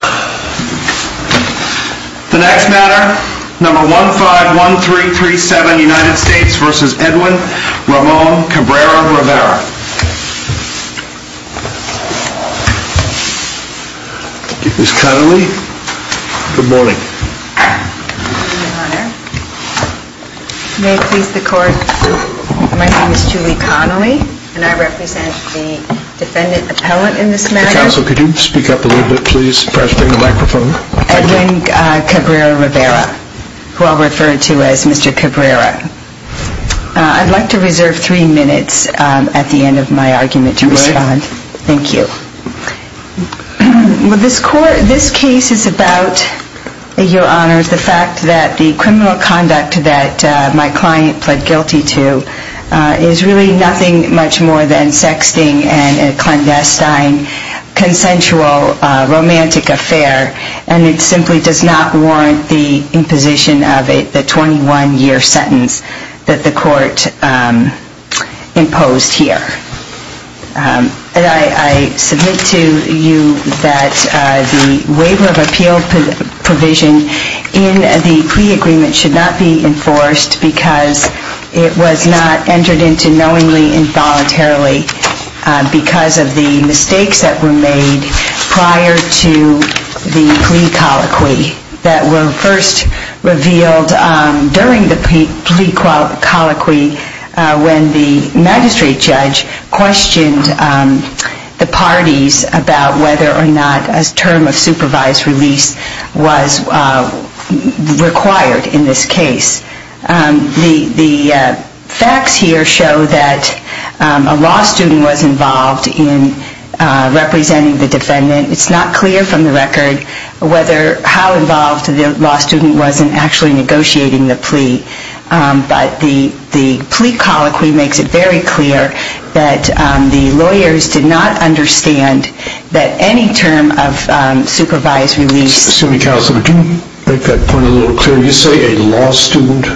The next matter, No. 151337 United States v. Edwin Ramon Cabrera-Rivera Ms. Connolly, good morning. May it please the court, my name is Julie Connolly and I represent the defendant appellant in this matter. Mr. Counsel, could you speak up a little bit, please? Edwin Cabrera-Rivera, who I'll refer to as Mr. Cabrera. I'd like to reserve three minutes at the end of my argument to respond. Thank you. This case is about, Your Honor, the fact that the criminal conduct that my client pled guilty to is really nothing much more than sexting and a clandestine, consensual, romantic affair and it simply does not warrant the imposition of the 21-year sentence that the court imposed here. I submit to you that the waiver of appeal provision in the plea agreement should not be enforced because it was not entered into knowingly and voluntarily because of the mistakes that were made prior to the plea colloquy that were first revealed during the plea colloquy when the magistrate judge questioned the parties about whether or not a term of supervised release was required in this case. The facts here show that a law student was involved in representing the defendant. It's not clear from the record how involved the law student was in actually negotiating the plea, but the plea colloquy makes it very clear that the lawyers did not understand that any term of supervised release... Excuse me, Counselor, but do you make that point a little clearer? You say a law student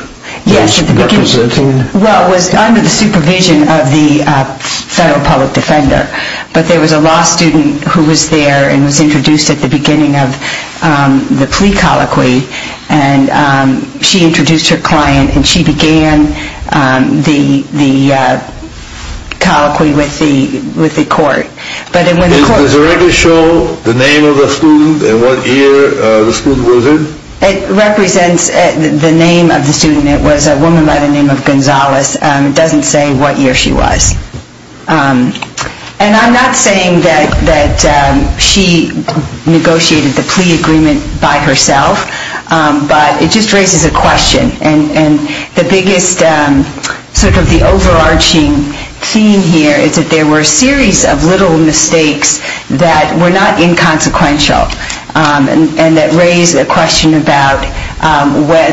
was representing... Yes, well, it was under the supervision of the federal public defender, but there was a law student who was there and was introduced at the beginning of the plea colloquy and she introduced her client and she began the colloquy with the court. Does the record show the name of the student and what year the student was in? It represents the name of the student. It was a woman by the name of Gonzales. It doesn't say what year she was. And I'm not saying that she negotiated the plea agreement by herself, but it just raises a question. And the biggest sort of the overarching theme here is that there were a series of little mistakes that were not inconsequential and that raised a question about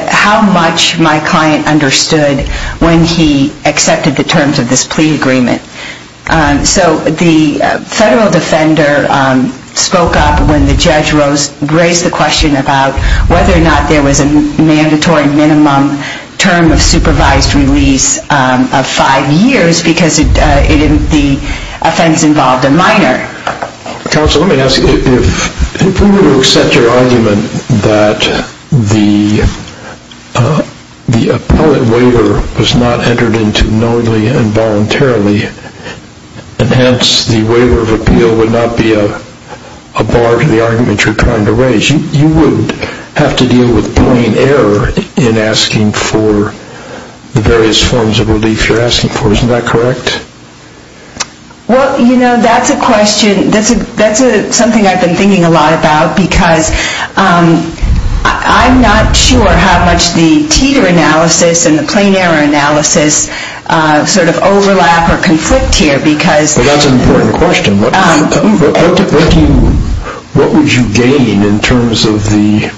how much my client understood when he accepted the terms of this plea agreement. So the federal defender spoke up when the judge raised the question about whether or not there was a mandatory minimum term of supervised release of five years because the offense involved a minor. Counsel, let me ask you, if we were to accept your argument that the appellate waiver was not entered into knowingly and voluntarily and hence the waiver of appeal would not be a bar to the argument you're trying to raise, you would have to deal with plain error in asking for the various forms of relief you're asking for. Isn't that correct? Well, you know, that's a question, that's something I've been thinking a lot about because I'm not sure how much the Teeter analysis and the plain error analysis sort of overlap or conflict here because... Well, that's an important question. What would you gain in terms of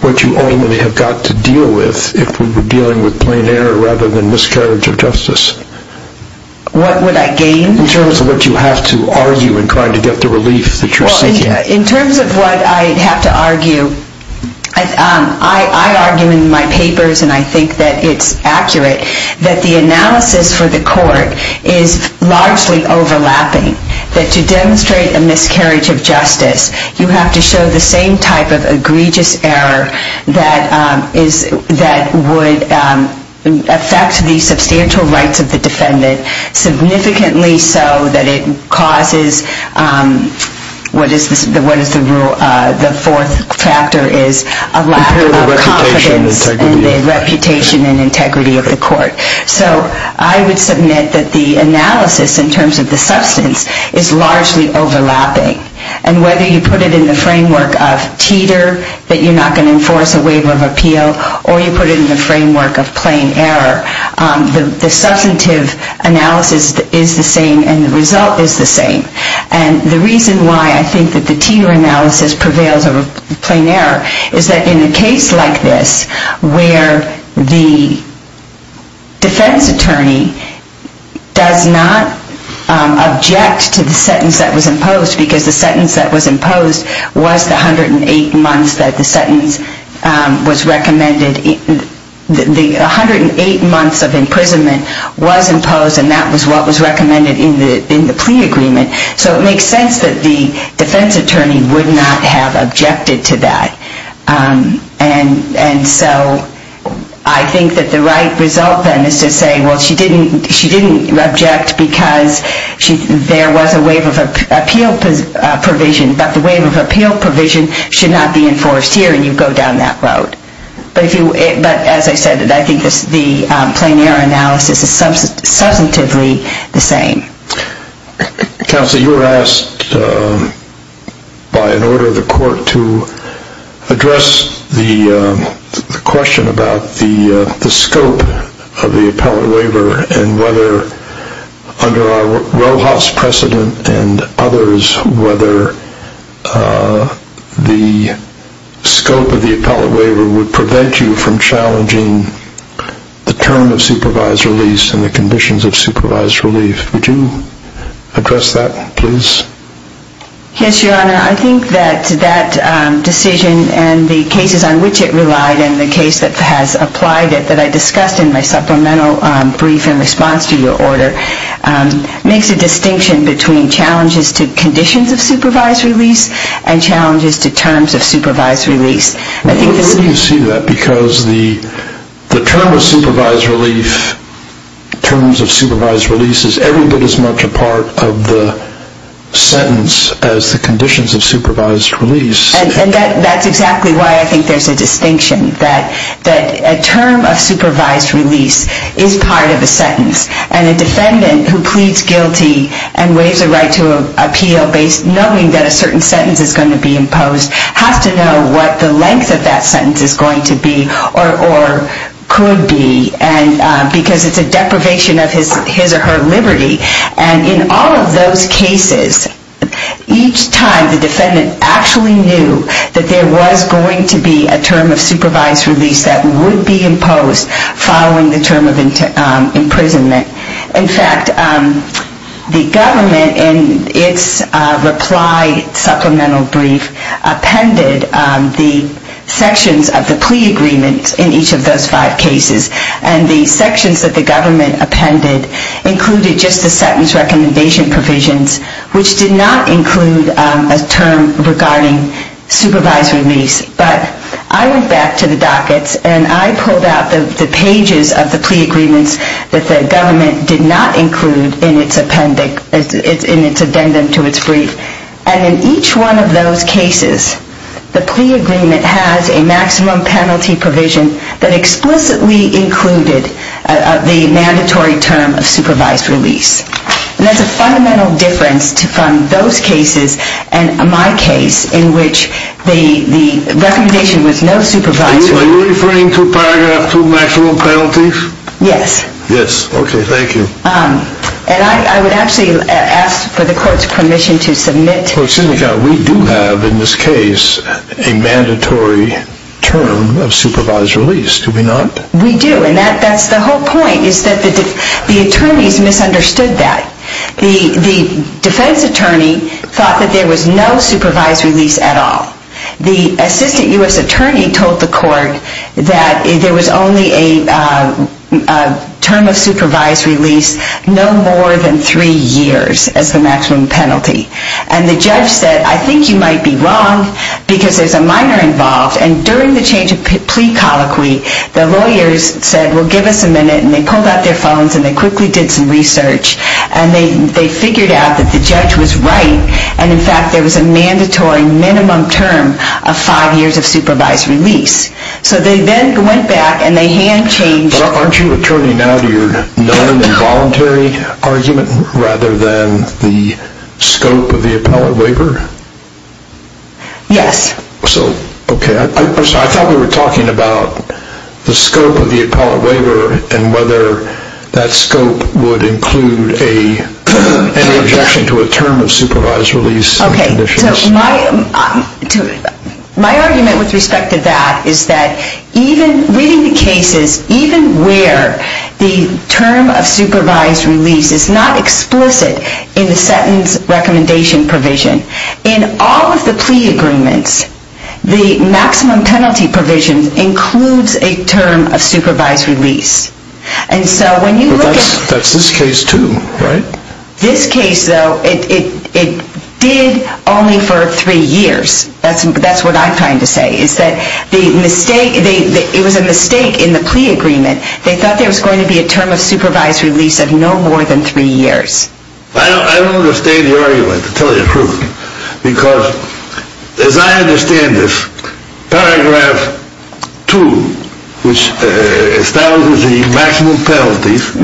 what you ultimately have got to deal with if we were dealing with plain error rather than miscarriage of justice? What would I gain? In terms of what you have to argue in trying to get the relief that you're seeking. In terms of what I have to argue, I argue in my papers and I think that it's accurate that the analysis for the court is largely overlapping, that to demonstrate a miscarriage of justice, you have to show the same type of egregious error that would affect the substantial rights of the defendant significantly so that it causes, what is the rule, the fourth factor is a lack of confidence in the reputation and integrity of the court. So I would submit that the analysis in terms of the substance is largely overlapping and whether you put it in the framework of Teeter, that you're not going to enforce a waiver of appeal, or you put it in the framework of plain error, the substantive analysis is the same and the result is the same. And the reason why I think that the Teeter analysis prevails over plain error is that in a case like this where the defense attorney does not object to the sentence that was imposed, because the sentence that was imposed was the 108 months that the sentence was recommended, the 108 months of imprisonment was imposed and that was what was recommended in the plea agreement, so it makes sense that the defense attorney would not have objected to that. And so I think that the right result then is to say, well, she didn't object because there was a waiver of appeal provision, but the waiver of appeal provision should not be enforced here and you go down that road. But as I said, I think the plain error analysis is substantively the same. Counsel, you were asked by an order of the court to address the question about the scope of the appellate waiver and whether under our RoHS precedent and others, whether the scope of the appellate waiver would prevent you from challenging the term of supervised release and the conditions of supervised relief. Would you address that, please? Yes, Your Honor. I think that that decision and the cases on which it relied and the case that has applied it that I discussed in my supplemental brief in response to your order makes a distinction between challenges to conditions of supervised release and challenges to terms of supervised release. Well, we can see that because the term of supervised relief, terms of supervised release, is every bit as much a part of the sentence as the conditions of supervised release. And that's exactly why I think there's a distinction, that a term of supervised release is part of a sentence and a defendant who pleads guilty and waives a right to appeal knowing that a certain sentence is going to be imposed has to know what the length of that sentence is going to be or could be because it's a deprivation of his or her liberty. And in all of those cases, each time the defendant actually knew that there was going to be a term of supervised release that would be imposed following the term of imprisonment. In fact, the government in its reply supplemental brief appended the sections of the plea agreement in each of those five cases. And the sections that the government appended included just the sentence recommendation provisions which did not include a term regarding supervised release. But I went back to the dockets and I pulled out the pages of the plea agreements that the government did not include in its appendix, in its addendum to its brief. And in each one of those cases, the plea agreement has a maximum penalty provision that explicitly included the mandatory term of supervised release. And that's a fundamental difference to fund those cases and my case in which the recommendation was no supervised release. Are you referring to paragraph 2, maximum penalties? Yes. Yes, okay, thank you. And I would actually ask for the court's permission to submit. Well, Cindy, we do have in this case a mandatory term of supervised release, do we not? We do, and that's the whole point is that the attorneys misunderstood that. The defense attorney thought that there was no supervised release at all. The assistant U.S. attorney told the court that there was only a term of supervised release no more than three years as the maximum penalty. And the judge said, I think you might be wrong because there's a minor involved. And during the change of plea colloquy, the lawyers said, well, give us a minute. And they pulled out their phones and they quickly did some research. And they figured out that the judge was right. And, in fact, there was a mandatory minimum term of five years of supervised release. So they then went back and they hand changed. But aren't you returning now to your non-involuntary argument rather than the scope of the appellate waiver? Yes. So, okay, I thought we were talking about the scope of the appellate waiver and whether that scope would include any objection to a term of supervised release. Okay, so my argument with respect to that is that even reading the cases, even where the term of supervised release is not explicit in the sentence recommendation provision, in all of the plea agreements, the maximum penalty provision includes a term of supervised release. But that's this case too, right? This case, though, it did only for three years. That's what I'm trying to say, is that it was a mistake in the plea agreement. They thought there was going to be a term of supervised release of no more than three years. I don't understand your argument, to tell you the truth. Because, as I understand this, paragraph 2, which establishes the maximum penalties,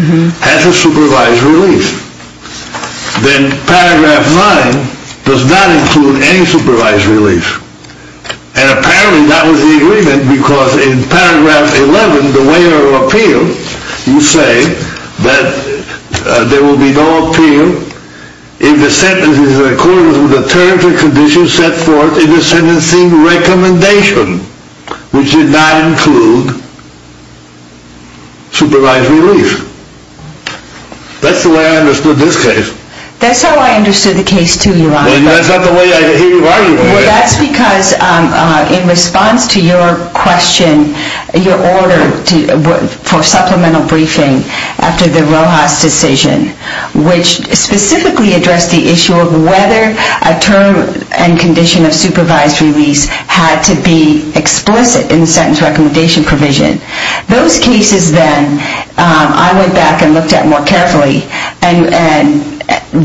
has a supervised release. Then paragraph 9 does not include any supervised release. And apparently that was the agreement because in paragraph 11, the waiver of appeal, you say that there will be no appeal if the sentence is included with the terms and conditions set forth in the sentencing recommendation, which did not include supervised release. That's the way I understood this case. That's how I understood the case too, Your Honor. That's not the way I hear you arguing. Well, that's because in response to your question, your order for supplemental briefing after the Rojas decision, which specifically addressed the issue of whether a term and condition of supervised release had to be explicit in the sentence recommendation provision. Those cases then, I went back and looked at more carefully and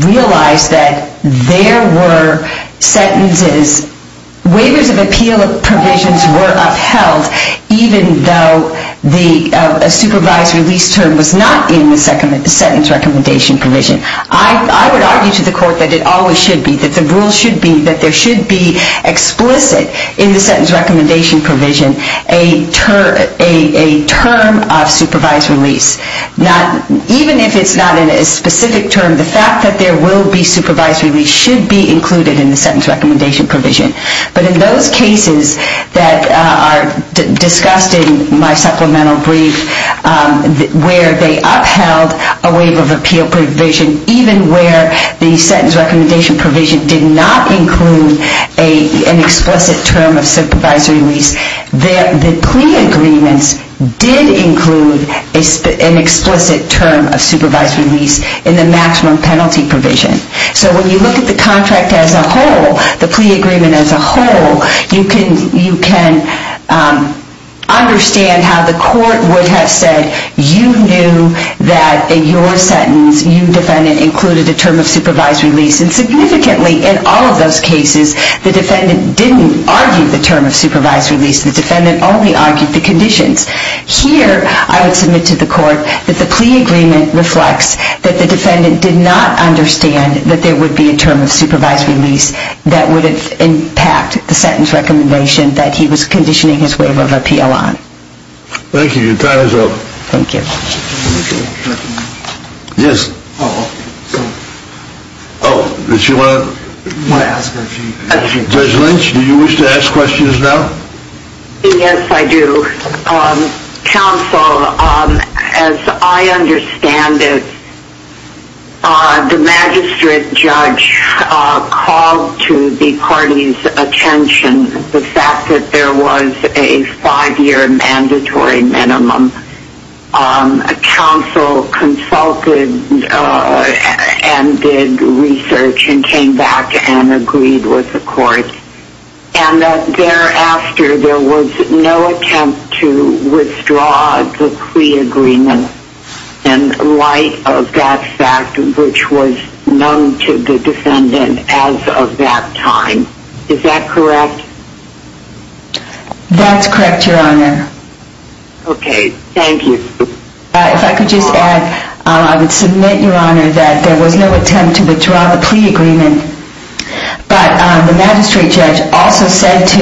realized that there were sentences, waivers of appeal provisions were upheld even though a supervised release term was not in the sentence recommendation provision. I would argue to the court that it always should be, that the rules should be, that there should be explicit in the sentence recommendation provision a term of supervised release. Even if it's not in a specific term, the fact that there will be supervised release should be included in the sentence recommendation provision. But in those cases that are discussed in my supplemental brief where they upheld a waiver of appeal provision, even where the sentence recommendation provision did not include an explicit term of supervised release, the plea agreements did include an explicit term of supervised release in the maximum penalty provision. So when you look at the contract as a whole, the plea agreement as a whole, you can understand how the court would have said you knew that in your sentence, you defendant included a term of supervised release. And significantly in all of those cases, the defendant didn't argue the term of supervised release. The defendant only argued the conditions. Here, I would submit to the court that the plea agreement reflects that the defendant did not understand that there would be a term of supervised release that would impact the sentence recommendation that he was conditioning his waiver of appeal on. Thank you. Your time is up. Thank you. Judge Lynch, do you wish to ask questions now? Yes, I do. Counsel, as I understand it, the magistrate judge called to the parties' attention the fact that there was a five-year mandatory minimum. Counsel consulted and did research and came back and agreed with the court. And thereafter, there was no attempt to withdraw the plea agreement in light of that fact, which was known to the defendant as of that time. Is that correct? That's correct, Your Honor. Okay. Thank you. If I could just add, I would submit, Your Honor, that there was no attempt to withdraw the plea agreement. But the magistrate judge also said to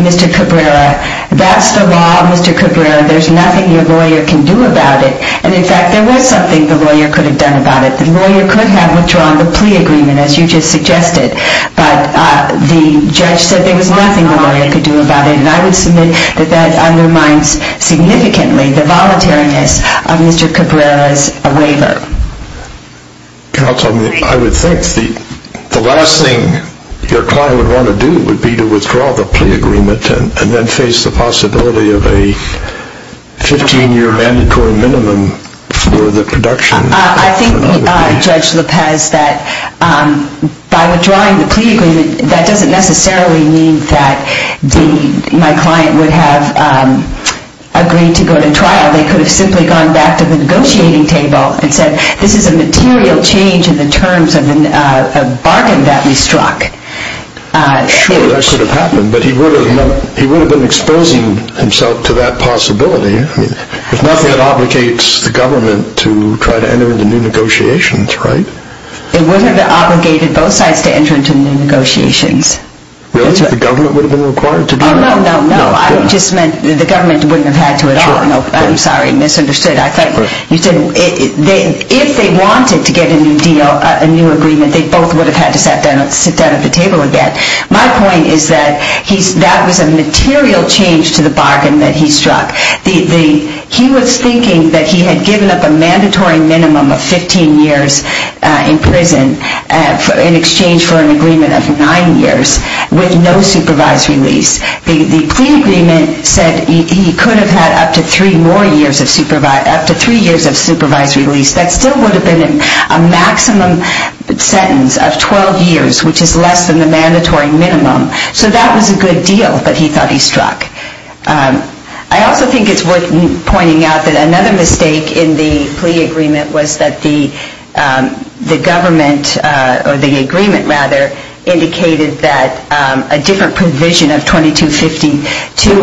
Mr. Cabrera, that's the law, Mr. Cabrera, there's nothing your lawyer can do about it. And, in fact, there was something the lawyer could have done about it. The lawyer could have withdrawn the plea agreement, as you just suggested. But the judge said there was nothing the lawyer could do about it. And I would submit that that undermines significantly the voluntariness of Mr. Cabrera's waiver. Counsel, I would think the last thing your client would want to do would be to withdraw the plea agreement and then face the possibility of a 15-year mandatory minimum for the production. I think, Judge Lopez, that by withdrawing the plea agreement, that doesn't necessarily mean that my client would have agreed to go to trial. They could have simply gone back to the negotiating table and said, this is a material change in the terms of a bargain that we struck. Sure, that could have happened. But he would have been exposing himself to that possibility. If nothing, it obligates the government to try to enter into new negotiations, right? It would have obligated both sides to enter into new negotiations. Really? The government would have been required to do that? Oh, no, no, no. I just meant the government wouldn't have had to at all. I'm sorry, misunderstood. I thought you said if they wanted to get a new deal, a new agreement, they both would have had to sit down at the table again. My point is that that was a material change to the bargain that he struck. He was thinking that he had given up a mandatory minimum of 15 years in prison in exchange for an agreement of nine years with no supervisory lease. The plea agreement said he could have had up to three years of supervisory lease. That still would have been a maximum sentence of 12 years, which is less than the mandatory minimum. So that was a good deal that he thought he struck. I also think it's worth pointing out that another mistake in the plea agreement was that the government, or the agreement rather, indicated that a different provision of 2252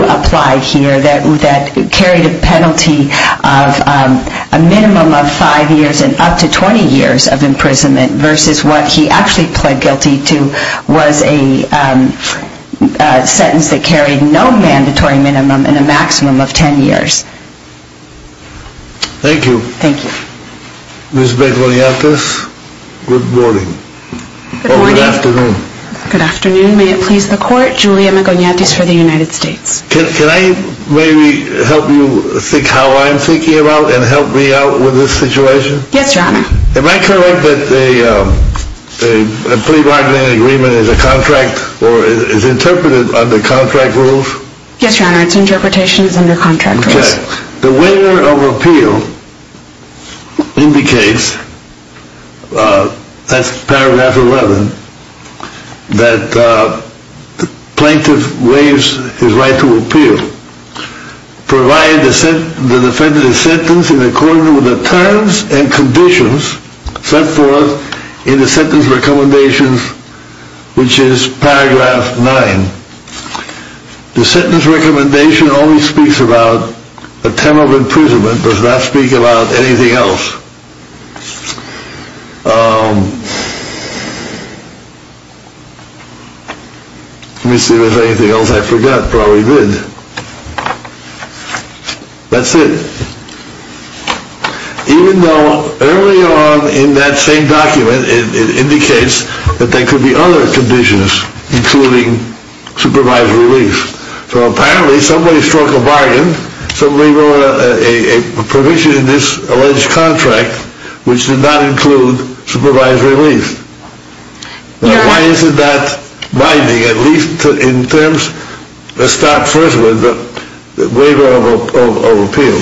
applied here that carried a penalty of a minimum of five years and up to 20 years of imprisonment versus what he actually pled guilty to was a sentence that carried no mandatory minimum and a maximum of 10 years. Thank you. Thank you. Ms. Magoniatis, good morning. Good morning. Or good afternoon. Good afternoon. May it please the Court, Julia Magoniatis for the United States. Can I maybe help you think how I'm thinking about and help me out with this situation? Yes, Your Honor. Am I correct that a plea bargain agreement is a contract or is interpreted under contract rules? Yes, Your Honor, its interpretation is under contract rules. Okay, the waiver of appeal indicates, that's paragraph 11, that the plaintiff waives his right to appeal provided the defendant is sentenced in accordance with the terms and conditions set forth in the sentence recommendations, which is paragraph 9. The sentence recommendation only speaks about the term of imprisonment, does not speak about anything else. Let me see if there's anything else I forgot, probably did. That's it. Even though early on in that same document it indicates that there could be other conditions including supervised release. So apparently somebody struck a bargain, somebody wrote a provision in this alleged contract, which did not include supervised release. Why is it not binding, at least in terms, let's start first with the waiver of appeal.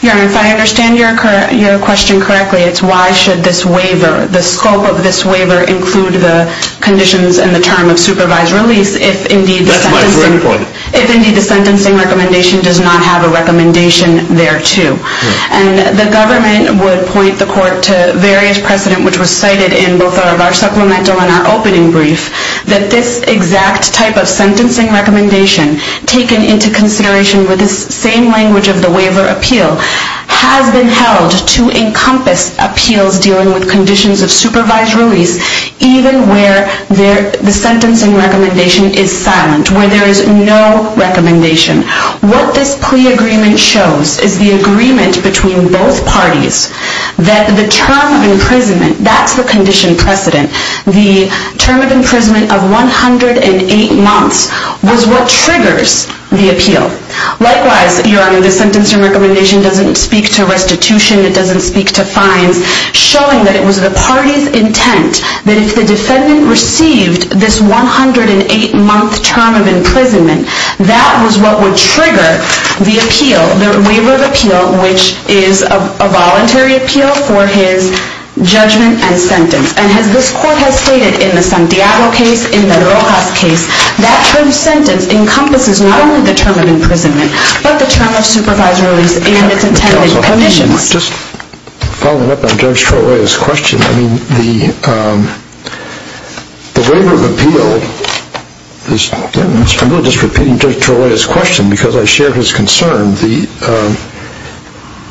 Your Honor, if I understand your question correctly, it's why should this waiver, the scope of this waiver, include the conditions and the term of supervised release, if indeed the sentencing recommendation does not have a recommendation thereto. And the government would point the court to various precedent, which was cited in both our supplemental and our opening brief, that this exact type of sentencing recommendation, taken into consideration with this same language of the waiver appeal, has been held to encompass appeals dealing with conditions of supervised release, even where the sentencing recommendation is silent, where there is no recommendation. What this plea agreement shows is the agreement between both parties that the term of imprisonment, that's the condition precedent, the term of imprisonment of 108 months, was what triggers the appeal. Likewise, Your Honor, the sentencing recommendation doesn't speak to restitution, it doesn't speak to fines, showing that it was the party's intent that if the defendant received this 108-month term of imprisonment, that was what would trigger the appeal, the waiver of appeal, which is a voluntary appeal for his judgment and sentence. And as this court has stated in the Santiago case, in the Rojas case, that term sentence encompasses not only the term of imprisonment, but the term of supervised release and its intended conditions. Just following up on Judge Troia's question, I mean, the waiver of appeal, I'm just repeating Judge Troia's question because I share his concern,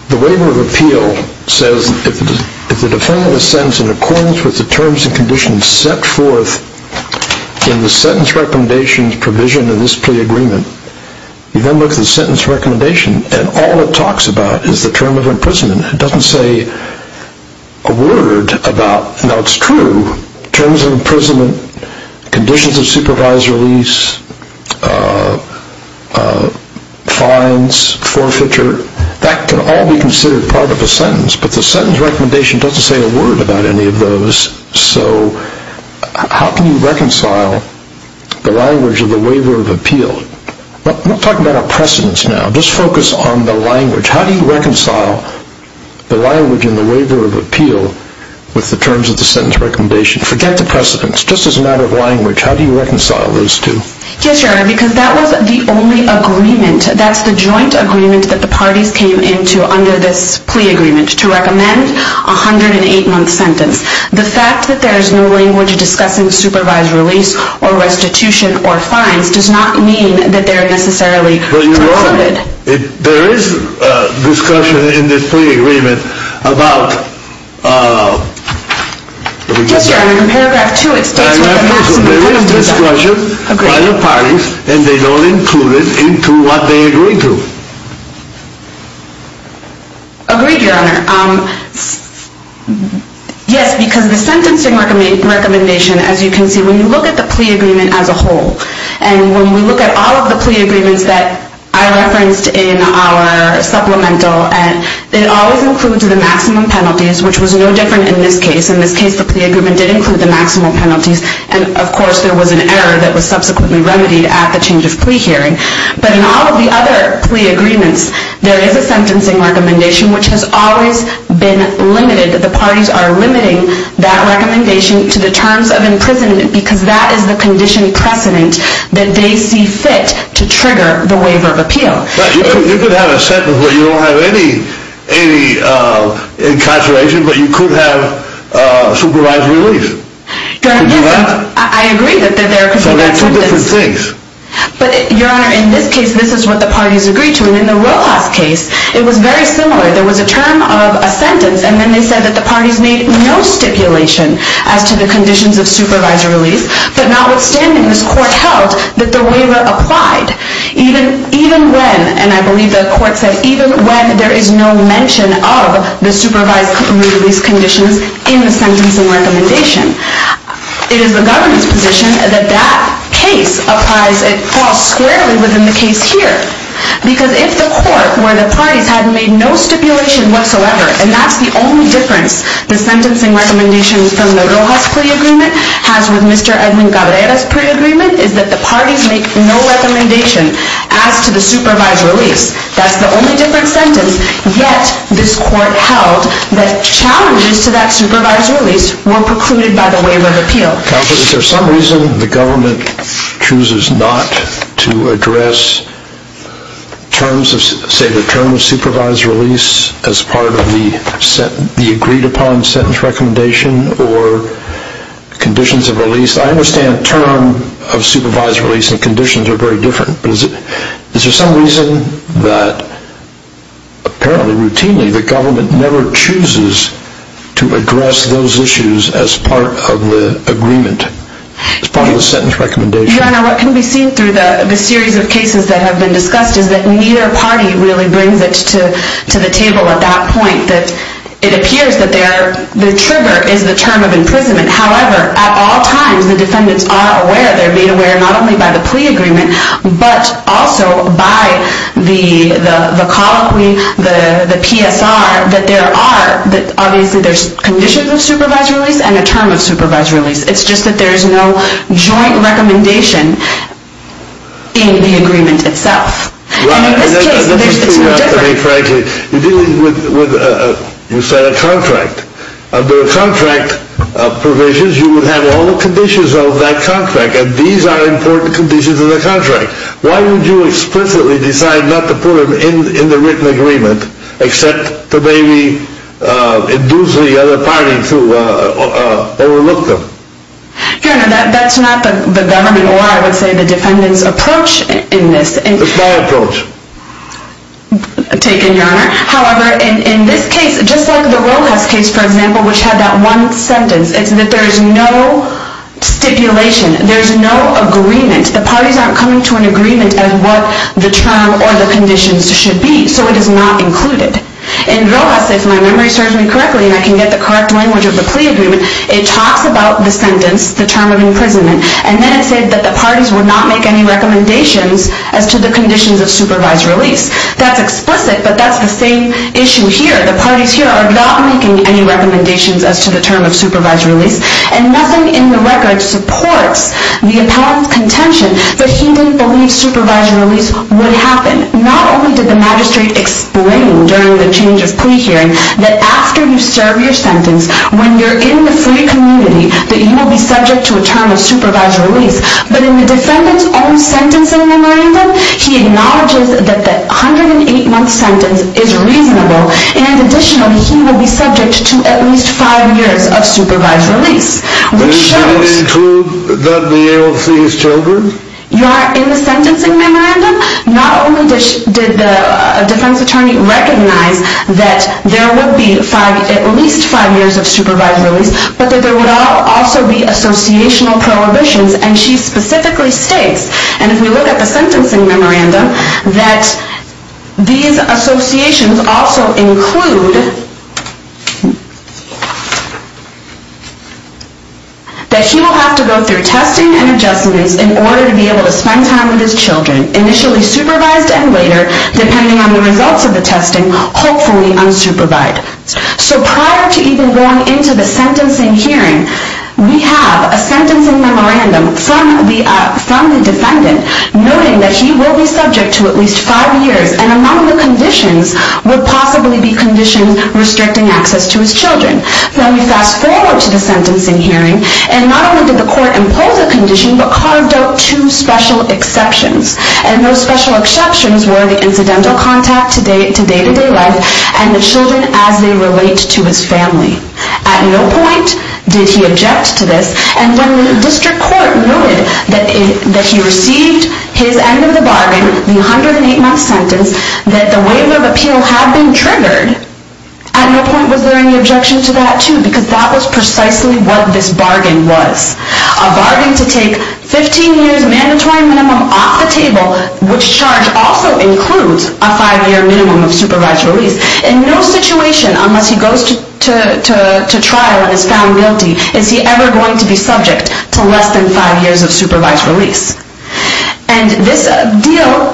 the waiver of appeal says if the defendant is sentenced in accordance with the terms and conditions that are set forth in the sentence recommendation's provision in this pre-agreement, you then look at the sentence recommendation and all it talks about is the term of imprisonment. It doesn't say a word about, now it's true, terms of imprisonment, conditions of supervised release, fines, forfeiture, that can all be considered part of a sentence, but the sentence recommendation doesn't say a word about any of those. So how can you reconcile the language of the waiver of appeal? We're not talking about our precedents now. Just focus on the language. How do you reconcile the language in the waiver of appeal with the terms of the sentence recommendation? Forget the precedents. Just as a matter of language, how do you reconcile those two? Yes, Your Honor, because that was the only agreement, that's the joint agreement that the parties came into under this plea agreement, to recommend a 108-month sentence. The fact that there is no language discussing supervised release or restitution or fines does not mean that they're necessarily prohibited. But Your Honor, there is discussion in this plea agreement about Yes, Your Honor, in paragraph 2 it states what the parties did. There is discussion by the parties and they don't include it into what they agreed to. Agreed, Your Honor. Yes, because the sentencing recommendation, as you can see, when you look at the plea agreement as a whole, and when we look at all of the plea agreements that I referenced in our supplemental, it always includes the maximum penalties, which was no different in this case. In this case, the plea agreement did include the maximum penalties, and of course there was an error that was subsequently remedied at the change of plea hearing. But in all of the other plea agreements, there is a sentencing recommendation, which has always been limited. The parties are limiting that recommendation to the terms of imprisonment, because that is the condition precedent that they see fit to trigger the waiver of appeal. You could have a sentence where you don't have any incarceration, but you could have supervised release. Yes, I agree that there could be two different things. But, Your Honor, in this case, this is what the parties agreed to. And in the Rojas case, it was very similar. There was a term of a sentence, and then they said that the parties made no stipulation as to the conditions of supervised release, but notwithstanding, this court held that the waiver applied, even when, and I believe the court said, even when there is no mention of the supervised release conditions in the sentencing recommendation. It is the government's position that that case applies, it falls squarely within the case here. Because if the court, where the parties had made no stipulation whatsoever, and that's the only difference the sentencing recommendation from the Rojas plea agreement has with Mr. Edwin Cabrera's plea agreement, is that the parties make no recommendation as to the supervised release. That's the only different sentence. Yet, this court held that challenges to that supervised release were precluded by the waiver of appeal. Counsel, is there some reason the government chooses not to address terms of, say, the term of supervised release as part of the agreed upon sentence recommendation or conditions of release? I understand term of supervised release and conditions are very different, but is there some reason that apparently, routinely, the government never chooses to address those issues as part of the agreement, as part of the sentence recommendation? Your Honor, what can be seen through the series of cases that have been discussed is that neither party really brings it to the table at that point. It appears that the trigger is the term of imprisonment. However, at all times, the defendants are aware, they're made aware not only by the plea agreement, but also by the colloquy, the PSR, that obviously there's conditions of supervised release and a term of supervised release. It's just that there's no joint recommendation in the agreement itself. And in this case, it's no different. You're dealing with, you said, a contract. Under contract provisions, you would have all the conditions of that contract, and these are important conditions of the contract. Why would you explicitly decide not to put them in the written agreement, except to maybe induce the other party to overlook them? Your Honor, that's not the government or, I would say, the defendant's approach in this. It's my approach. Taken, Your Honor. However, in this case, just like the Rojas case, for example, which had that one sentence, it's that there's no stipulation. There's no agreement. The parties aren't coming to an agreement of what the term or the conditions should be, so it is not included. In Rojas, if my memory serves me correctly, and I can get the correct language of the plea agreement, it talks about the sentence, the term of imprisonment, and then it said that the parties would not make any recommendations as to the conditions of supervised release. That's explicit, but that's the same issue here. The parties here are not making any recommendations as to the term of supervised release, and nothing in the record supports the appellant's contention that he didn't believe supervised release would happen. Not only did the magistrate explain during the change of plea hearing that after you serve your sentence, when you're in the free community, that you will be subject to a term of supervised release, but in the defendant's own sentencing memorandum, he acknowledges that the 108-month sentence is reasonable, and additionally, he will be subject to at least five years of supervised release. Does that include that the AO sees children? In the sentencing memorandum, not only did the defense attorney recognize that there would be at least five years of supervised release, but that there would also be associational prohibitions, and she specifically states, and if we look at the sentencing memorandum, that these associations also include that he will have to go through testing and adjustments in order to be able to spend time with his children, initially supervised and later, depending on the results of the testing, hopefully unsupervised. So prior to even going into the sentencing hearing, we have a sentencing memorandum from the defendant noting that he will be subject to at least five years, and among the conditions would possibly be conditions restricting access to his children. Now, we fast forward to the sentencing hearing, and not only did the court impose a condition, but carved out two special exceptions, and those special exceptions were the incidental contact to day-to-day life and the children as they relate to his family. At no point did he object to this, and when the district court noted that he received his end of the bargain, the 108-month sentence, that the waiver of appeal had been triggered, at no point was there any objection to that, too, because that was precisely what this bargain was, a bargain to take 15 years' mandatory minimum off the table, which charge also includes a five-year minimum of supervised release. In no situation, unless he goes to trial and is found guilty, is he ever going to be subject to less than five years of supervised release. And this deal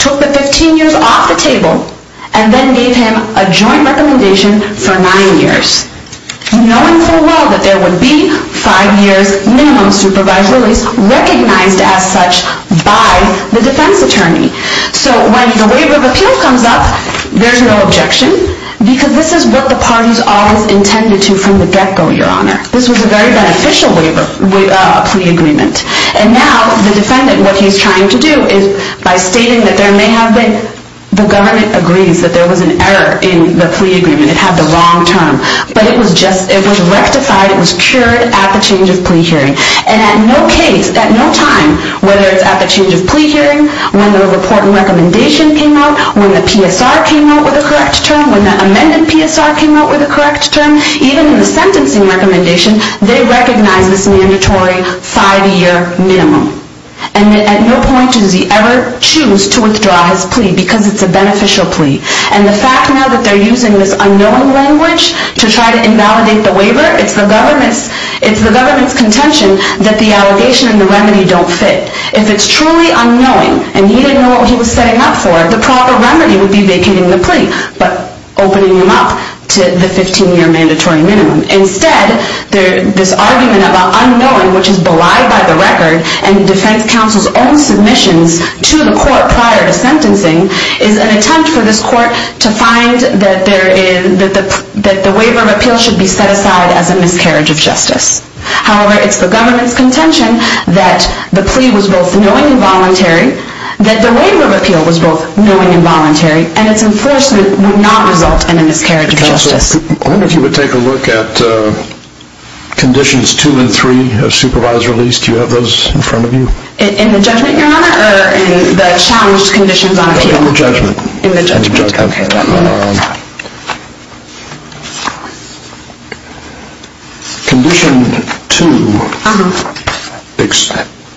took the 15 years off the table, and then gave him a joint recommendation for nine years, knowing full well that there would be five years' minimum supervised release recognized as such by the defense attorney. So when the waiver of appeal comes up, there's no objection, because this is what the parties always intended to from the get-go, Your Honor. This was a very beneficial waiver, plea agreement. And now the defendant, what he's trying to do is, by stating that there may have been, the government agrees that there was an error in the plea agreement, it had the wrong term, but it was rectified, it was cured at the change of plea hearing. And at no case, at no time, whether it's at the change of plea hearing, when the report and recommendation came out, when the PSR came out with a correct term, when the amended PSR came out with a correct term, even in the sentencing recommendation, they recognized this mandatory five-year minimum. And at no point does he ever choose to withdraw his plea, because it's a beneficial plea. And the fact now that they're using this unknowing language to try to invalidate the waiver, it's the government's contention that the allegation and the remedy don't fit. If it's truly unknowing, and he didn't know what he was setting up for, the proper remedy would be vacating the plea, but opening him up to the 15-year mandatory minimum. Instead, this argument about unknowing, which is belied by the record, and the defense counsel's own submissions to the court prior to sentencing, is an attempt for this court to find that the waiver of appeal should be set aside as a miscarriage of justice. However, it's the government's contention that the plea was both knowing and voluntary, that the waiver of appeal was both knowing and voluntary, and its enforcement would not result in a miscarriage of justice. Counsel, I wonder if you would take a look at Conditions 2 and 3 of Supervised Release. Do you have those in front of you? In the judgment, Your Honor, or in the challenged conditions on appeal? In the judgment. In the judgment. Okay. Condition 2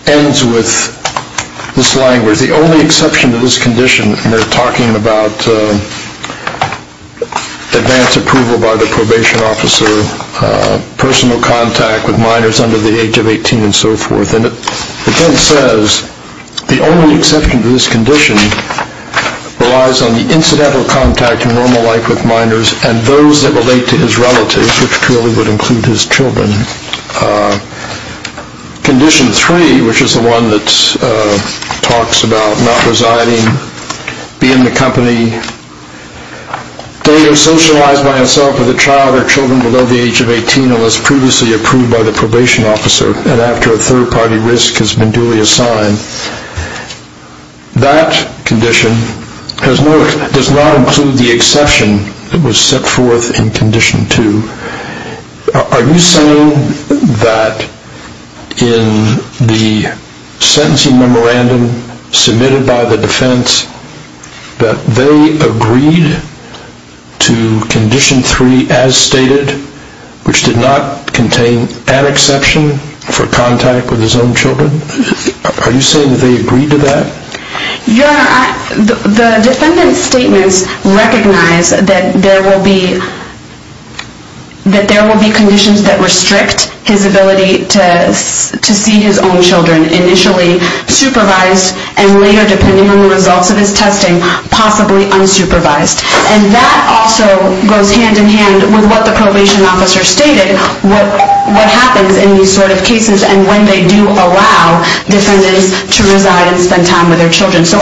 ends with this language, the only exception to this condition, and they're talking about advance approval by the probation officer, personal contact with minors under the age of 18, and so forth. And it then says, the only exception to this condition relies on the incidental contact in normal life with minors and those that relate to his relatives, which clearly would include his children. Condition 3, which is the one that talks about not residing, be in the company, date of socialized by himself with a child or children below the age of 18 unless previously approved by the probation officer, and after a third-party risk has been duly assigned. That condition does not include the exception that was set forth in Condition 2. Are you saying that in the sentencing memorandum submitted by the defense that they agreed to Condition 3 as stated, which did not contain an exception for contact with his own children? Are you saying that they agreed to that? Your Honor, the defendant's statements recognize that there will be conditions that restrict his ability to see his own children, initially supervised and later, depending on the results of his testing, possibly unsupervised. And that also goes hand-in-hand with what the probation officer stated, what happens in these sort of cases, and when they do allow defendants to reside and spend time with their children. So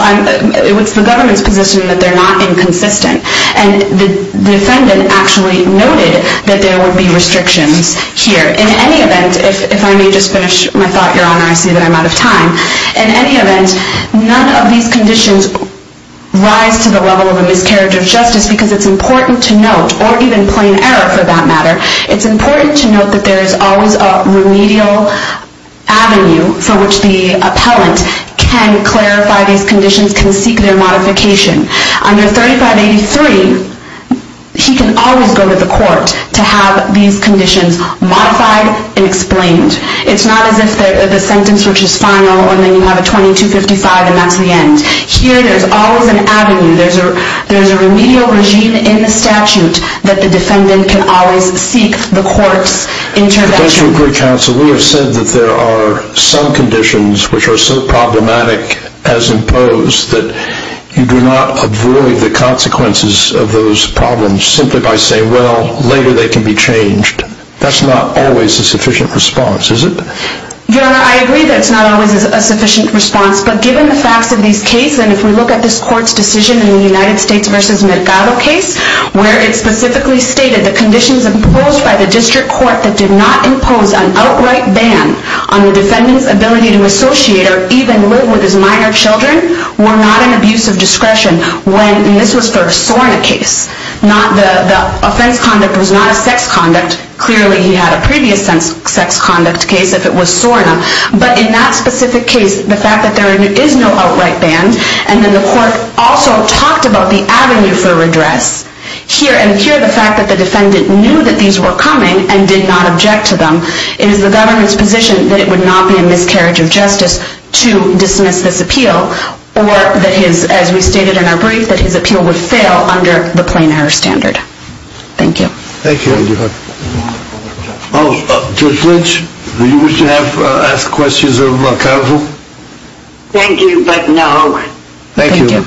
it's the government's position that they're not inconsistent. And the defendant actually noted that there would be restrictions here. In any event, if I may just finish my thought, Your Honor, I see that I'm out of time. In any event, none of these conditions rise to the level of a miscarriage of justice because it's important to note, or even plain error for that matter, it's important to note that there is always a remedial avenue for which the appellant can clarify these conditions, can seek their modification. Under 3583, he can always go to the court to have these conditions modified and explained. It's not as if the sentence which is final, and then you have a 2255, and that's the end. Here there's always an avenue. There's a remedial regime in the statute that the defendant can always seek the court's intervention. But don't you agree, counsel, we have said that there are some conditions which are so problematic as imposed that you do not avoid the consequences of those problems simply by saying, well, later they can be changed. That's not always a sufficient response, is it? Your Honor, I agree that it's not always a sufficient response, but given the facts of these cases, and if we look at this court's decision in the United States v. Mercado case where it specifically stated the conditions imposed by the district court that did not impose an outright ban on the defendant's ability to associate or even live with his minor children were not an abuse of discretion when, and this was for a SORNA case, the offense conduct was not a sex conduct. Clearly he had a previous sex conduct case if it was SORNA. But in that specific case, the fact that there is no outright ban and then the court also talked about the avenue for redress and here the fact that the defendant knew that these were coming and did not object to them, it is the government's position that it would not be a miscarriage of justice to dismiss this appeal or that his, as we stated in our brief, that his appeal would fail under the plain error standard. Thank you. Thank you, Your Honor. Judge Lynch, would you wish to ask questions of counsel? Thank you, but no. Thank you.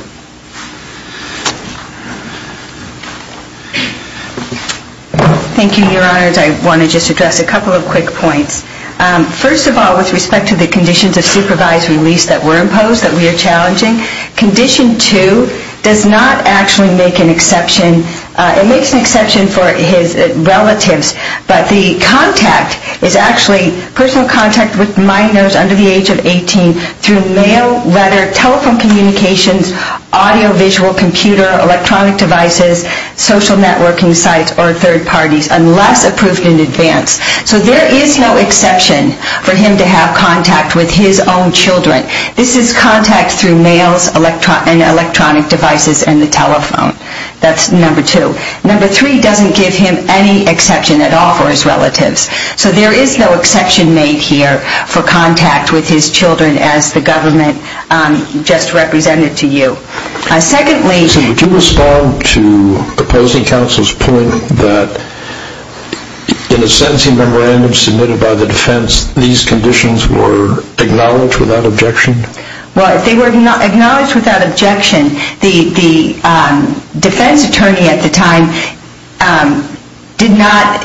Thank you, Your Honors. I want to just address a couple of quick points. First of all, with respect to the conditions of supervised release that were imposed that we are challenging, Condition 2 does not actually make an exception. It makes an exception for his relatives, but the contact is actually personal contact with minors under the age of 18 through mail, letter, telephone communications, audio, visual, computer, electronic devices, social networking sites, or third parties unless approved in advance. So there is no exception for him to have contact with his own children. This is contact through mail and electronic devices and the telephone. That's number two. Number three doesn't give him any exception at all for his relatives. So there is no exception made here for contact with his children as the government just represented to you. Secondly... So would you respond to opposing counsel's point that in a sentencing memorandum submitted by the defense, these conditions were acknowledged without objection? Well, they were acknowledged without objection. The defense attorney at the time did not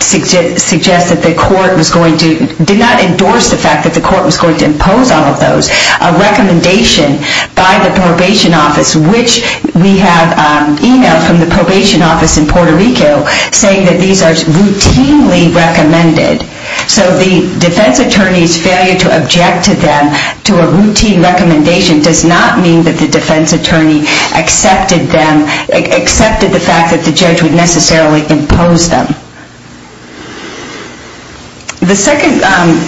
suggest that the court was going to... did not endorse the fact that the court was going to impose all of those. A recommendation by the probation office, which we have e-mailed from the probation office in Puerto Rico saying that these are routinely recommended. So the defense attorney's failure to object to them to a routine recommendation does not mean that the defense attorney accepted them... accepted the fact that the judge would necessarily impose them. The second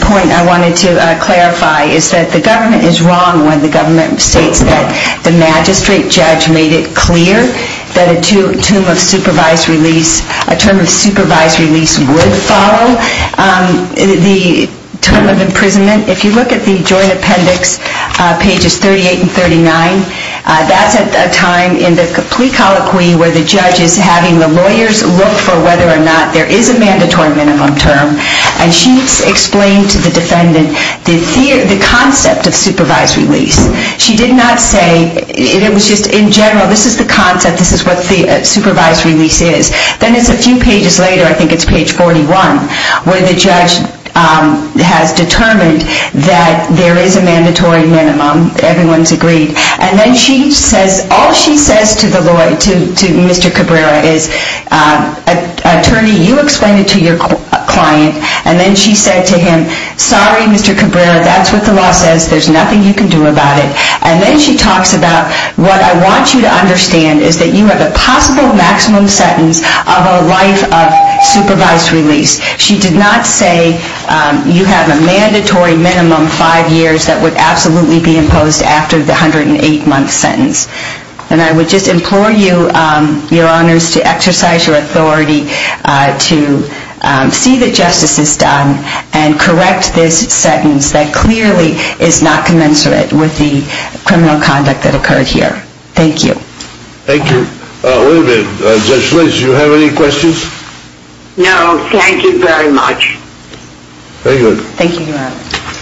point I wanted to clarify is that the government is wrong when the government states that the magistrate judge made it clear that a term of supervised release would follow the term of imprisonment. If you look at the joint appendix, pages 38 and 39, that's at a time in the plea colloquy where the judge is having the lawyers look for whether or not there is a mandatory minimum term. And she explained to the defendant the concept of supervised release. She did not say... It was just in general, this is the concept, this is what the supervised release is. Then it's a few pages later, I think it's page 41, where the judge has determined that there is a mandatory minimum. Everyone's agreed. And then she says... All she says to Mr. Cabrera is, Attorney, you explained it to your client. And then she said to him, Sorry, Mr. Cabrera, that's what the law says. There's nothing you can do about it. And then she talks about what I want you to understand is that you have a possible maximum sentence of a life of supervised release. She did not say you have a mandatory minimum five years that would absolutely be imposed after the 108-month sentence. And I would just implore you, Your Honors, to exercise your authority to see that justice is done and correct this sentence that clearly is not commensurate with the criminal conduct that occurred here. Thank you. Thank you. Wait a minute. Judge Schlicht, do you have any questions? No, thank you very much. Very good. Thank you, Your Honor.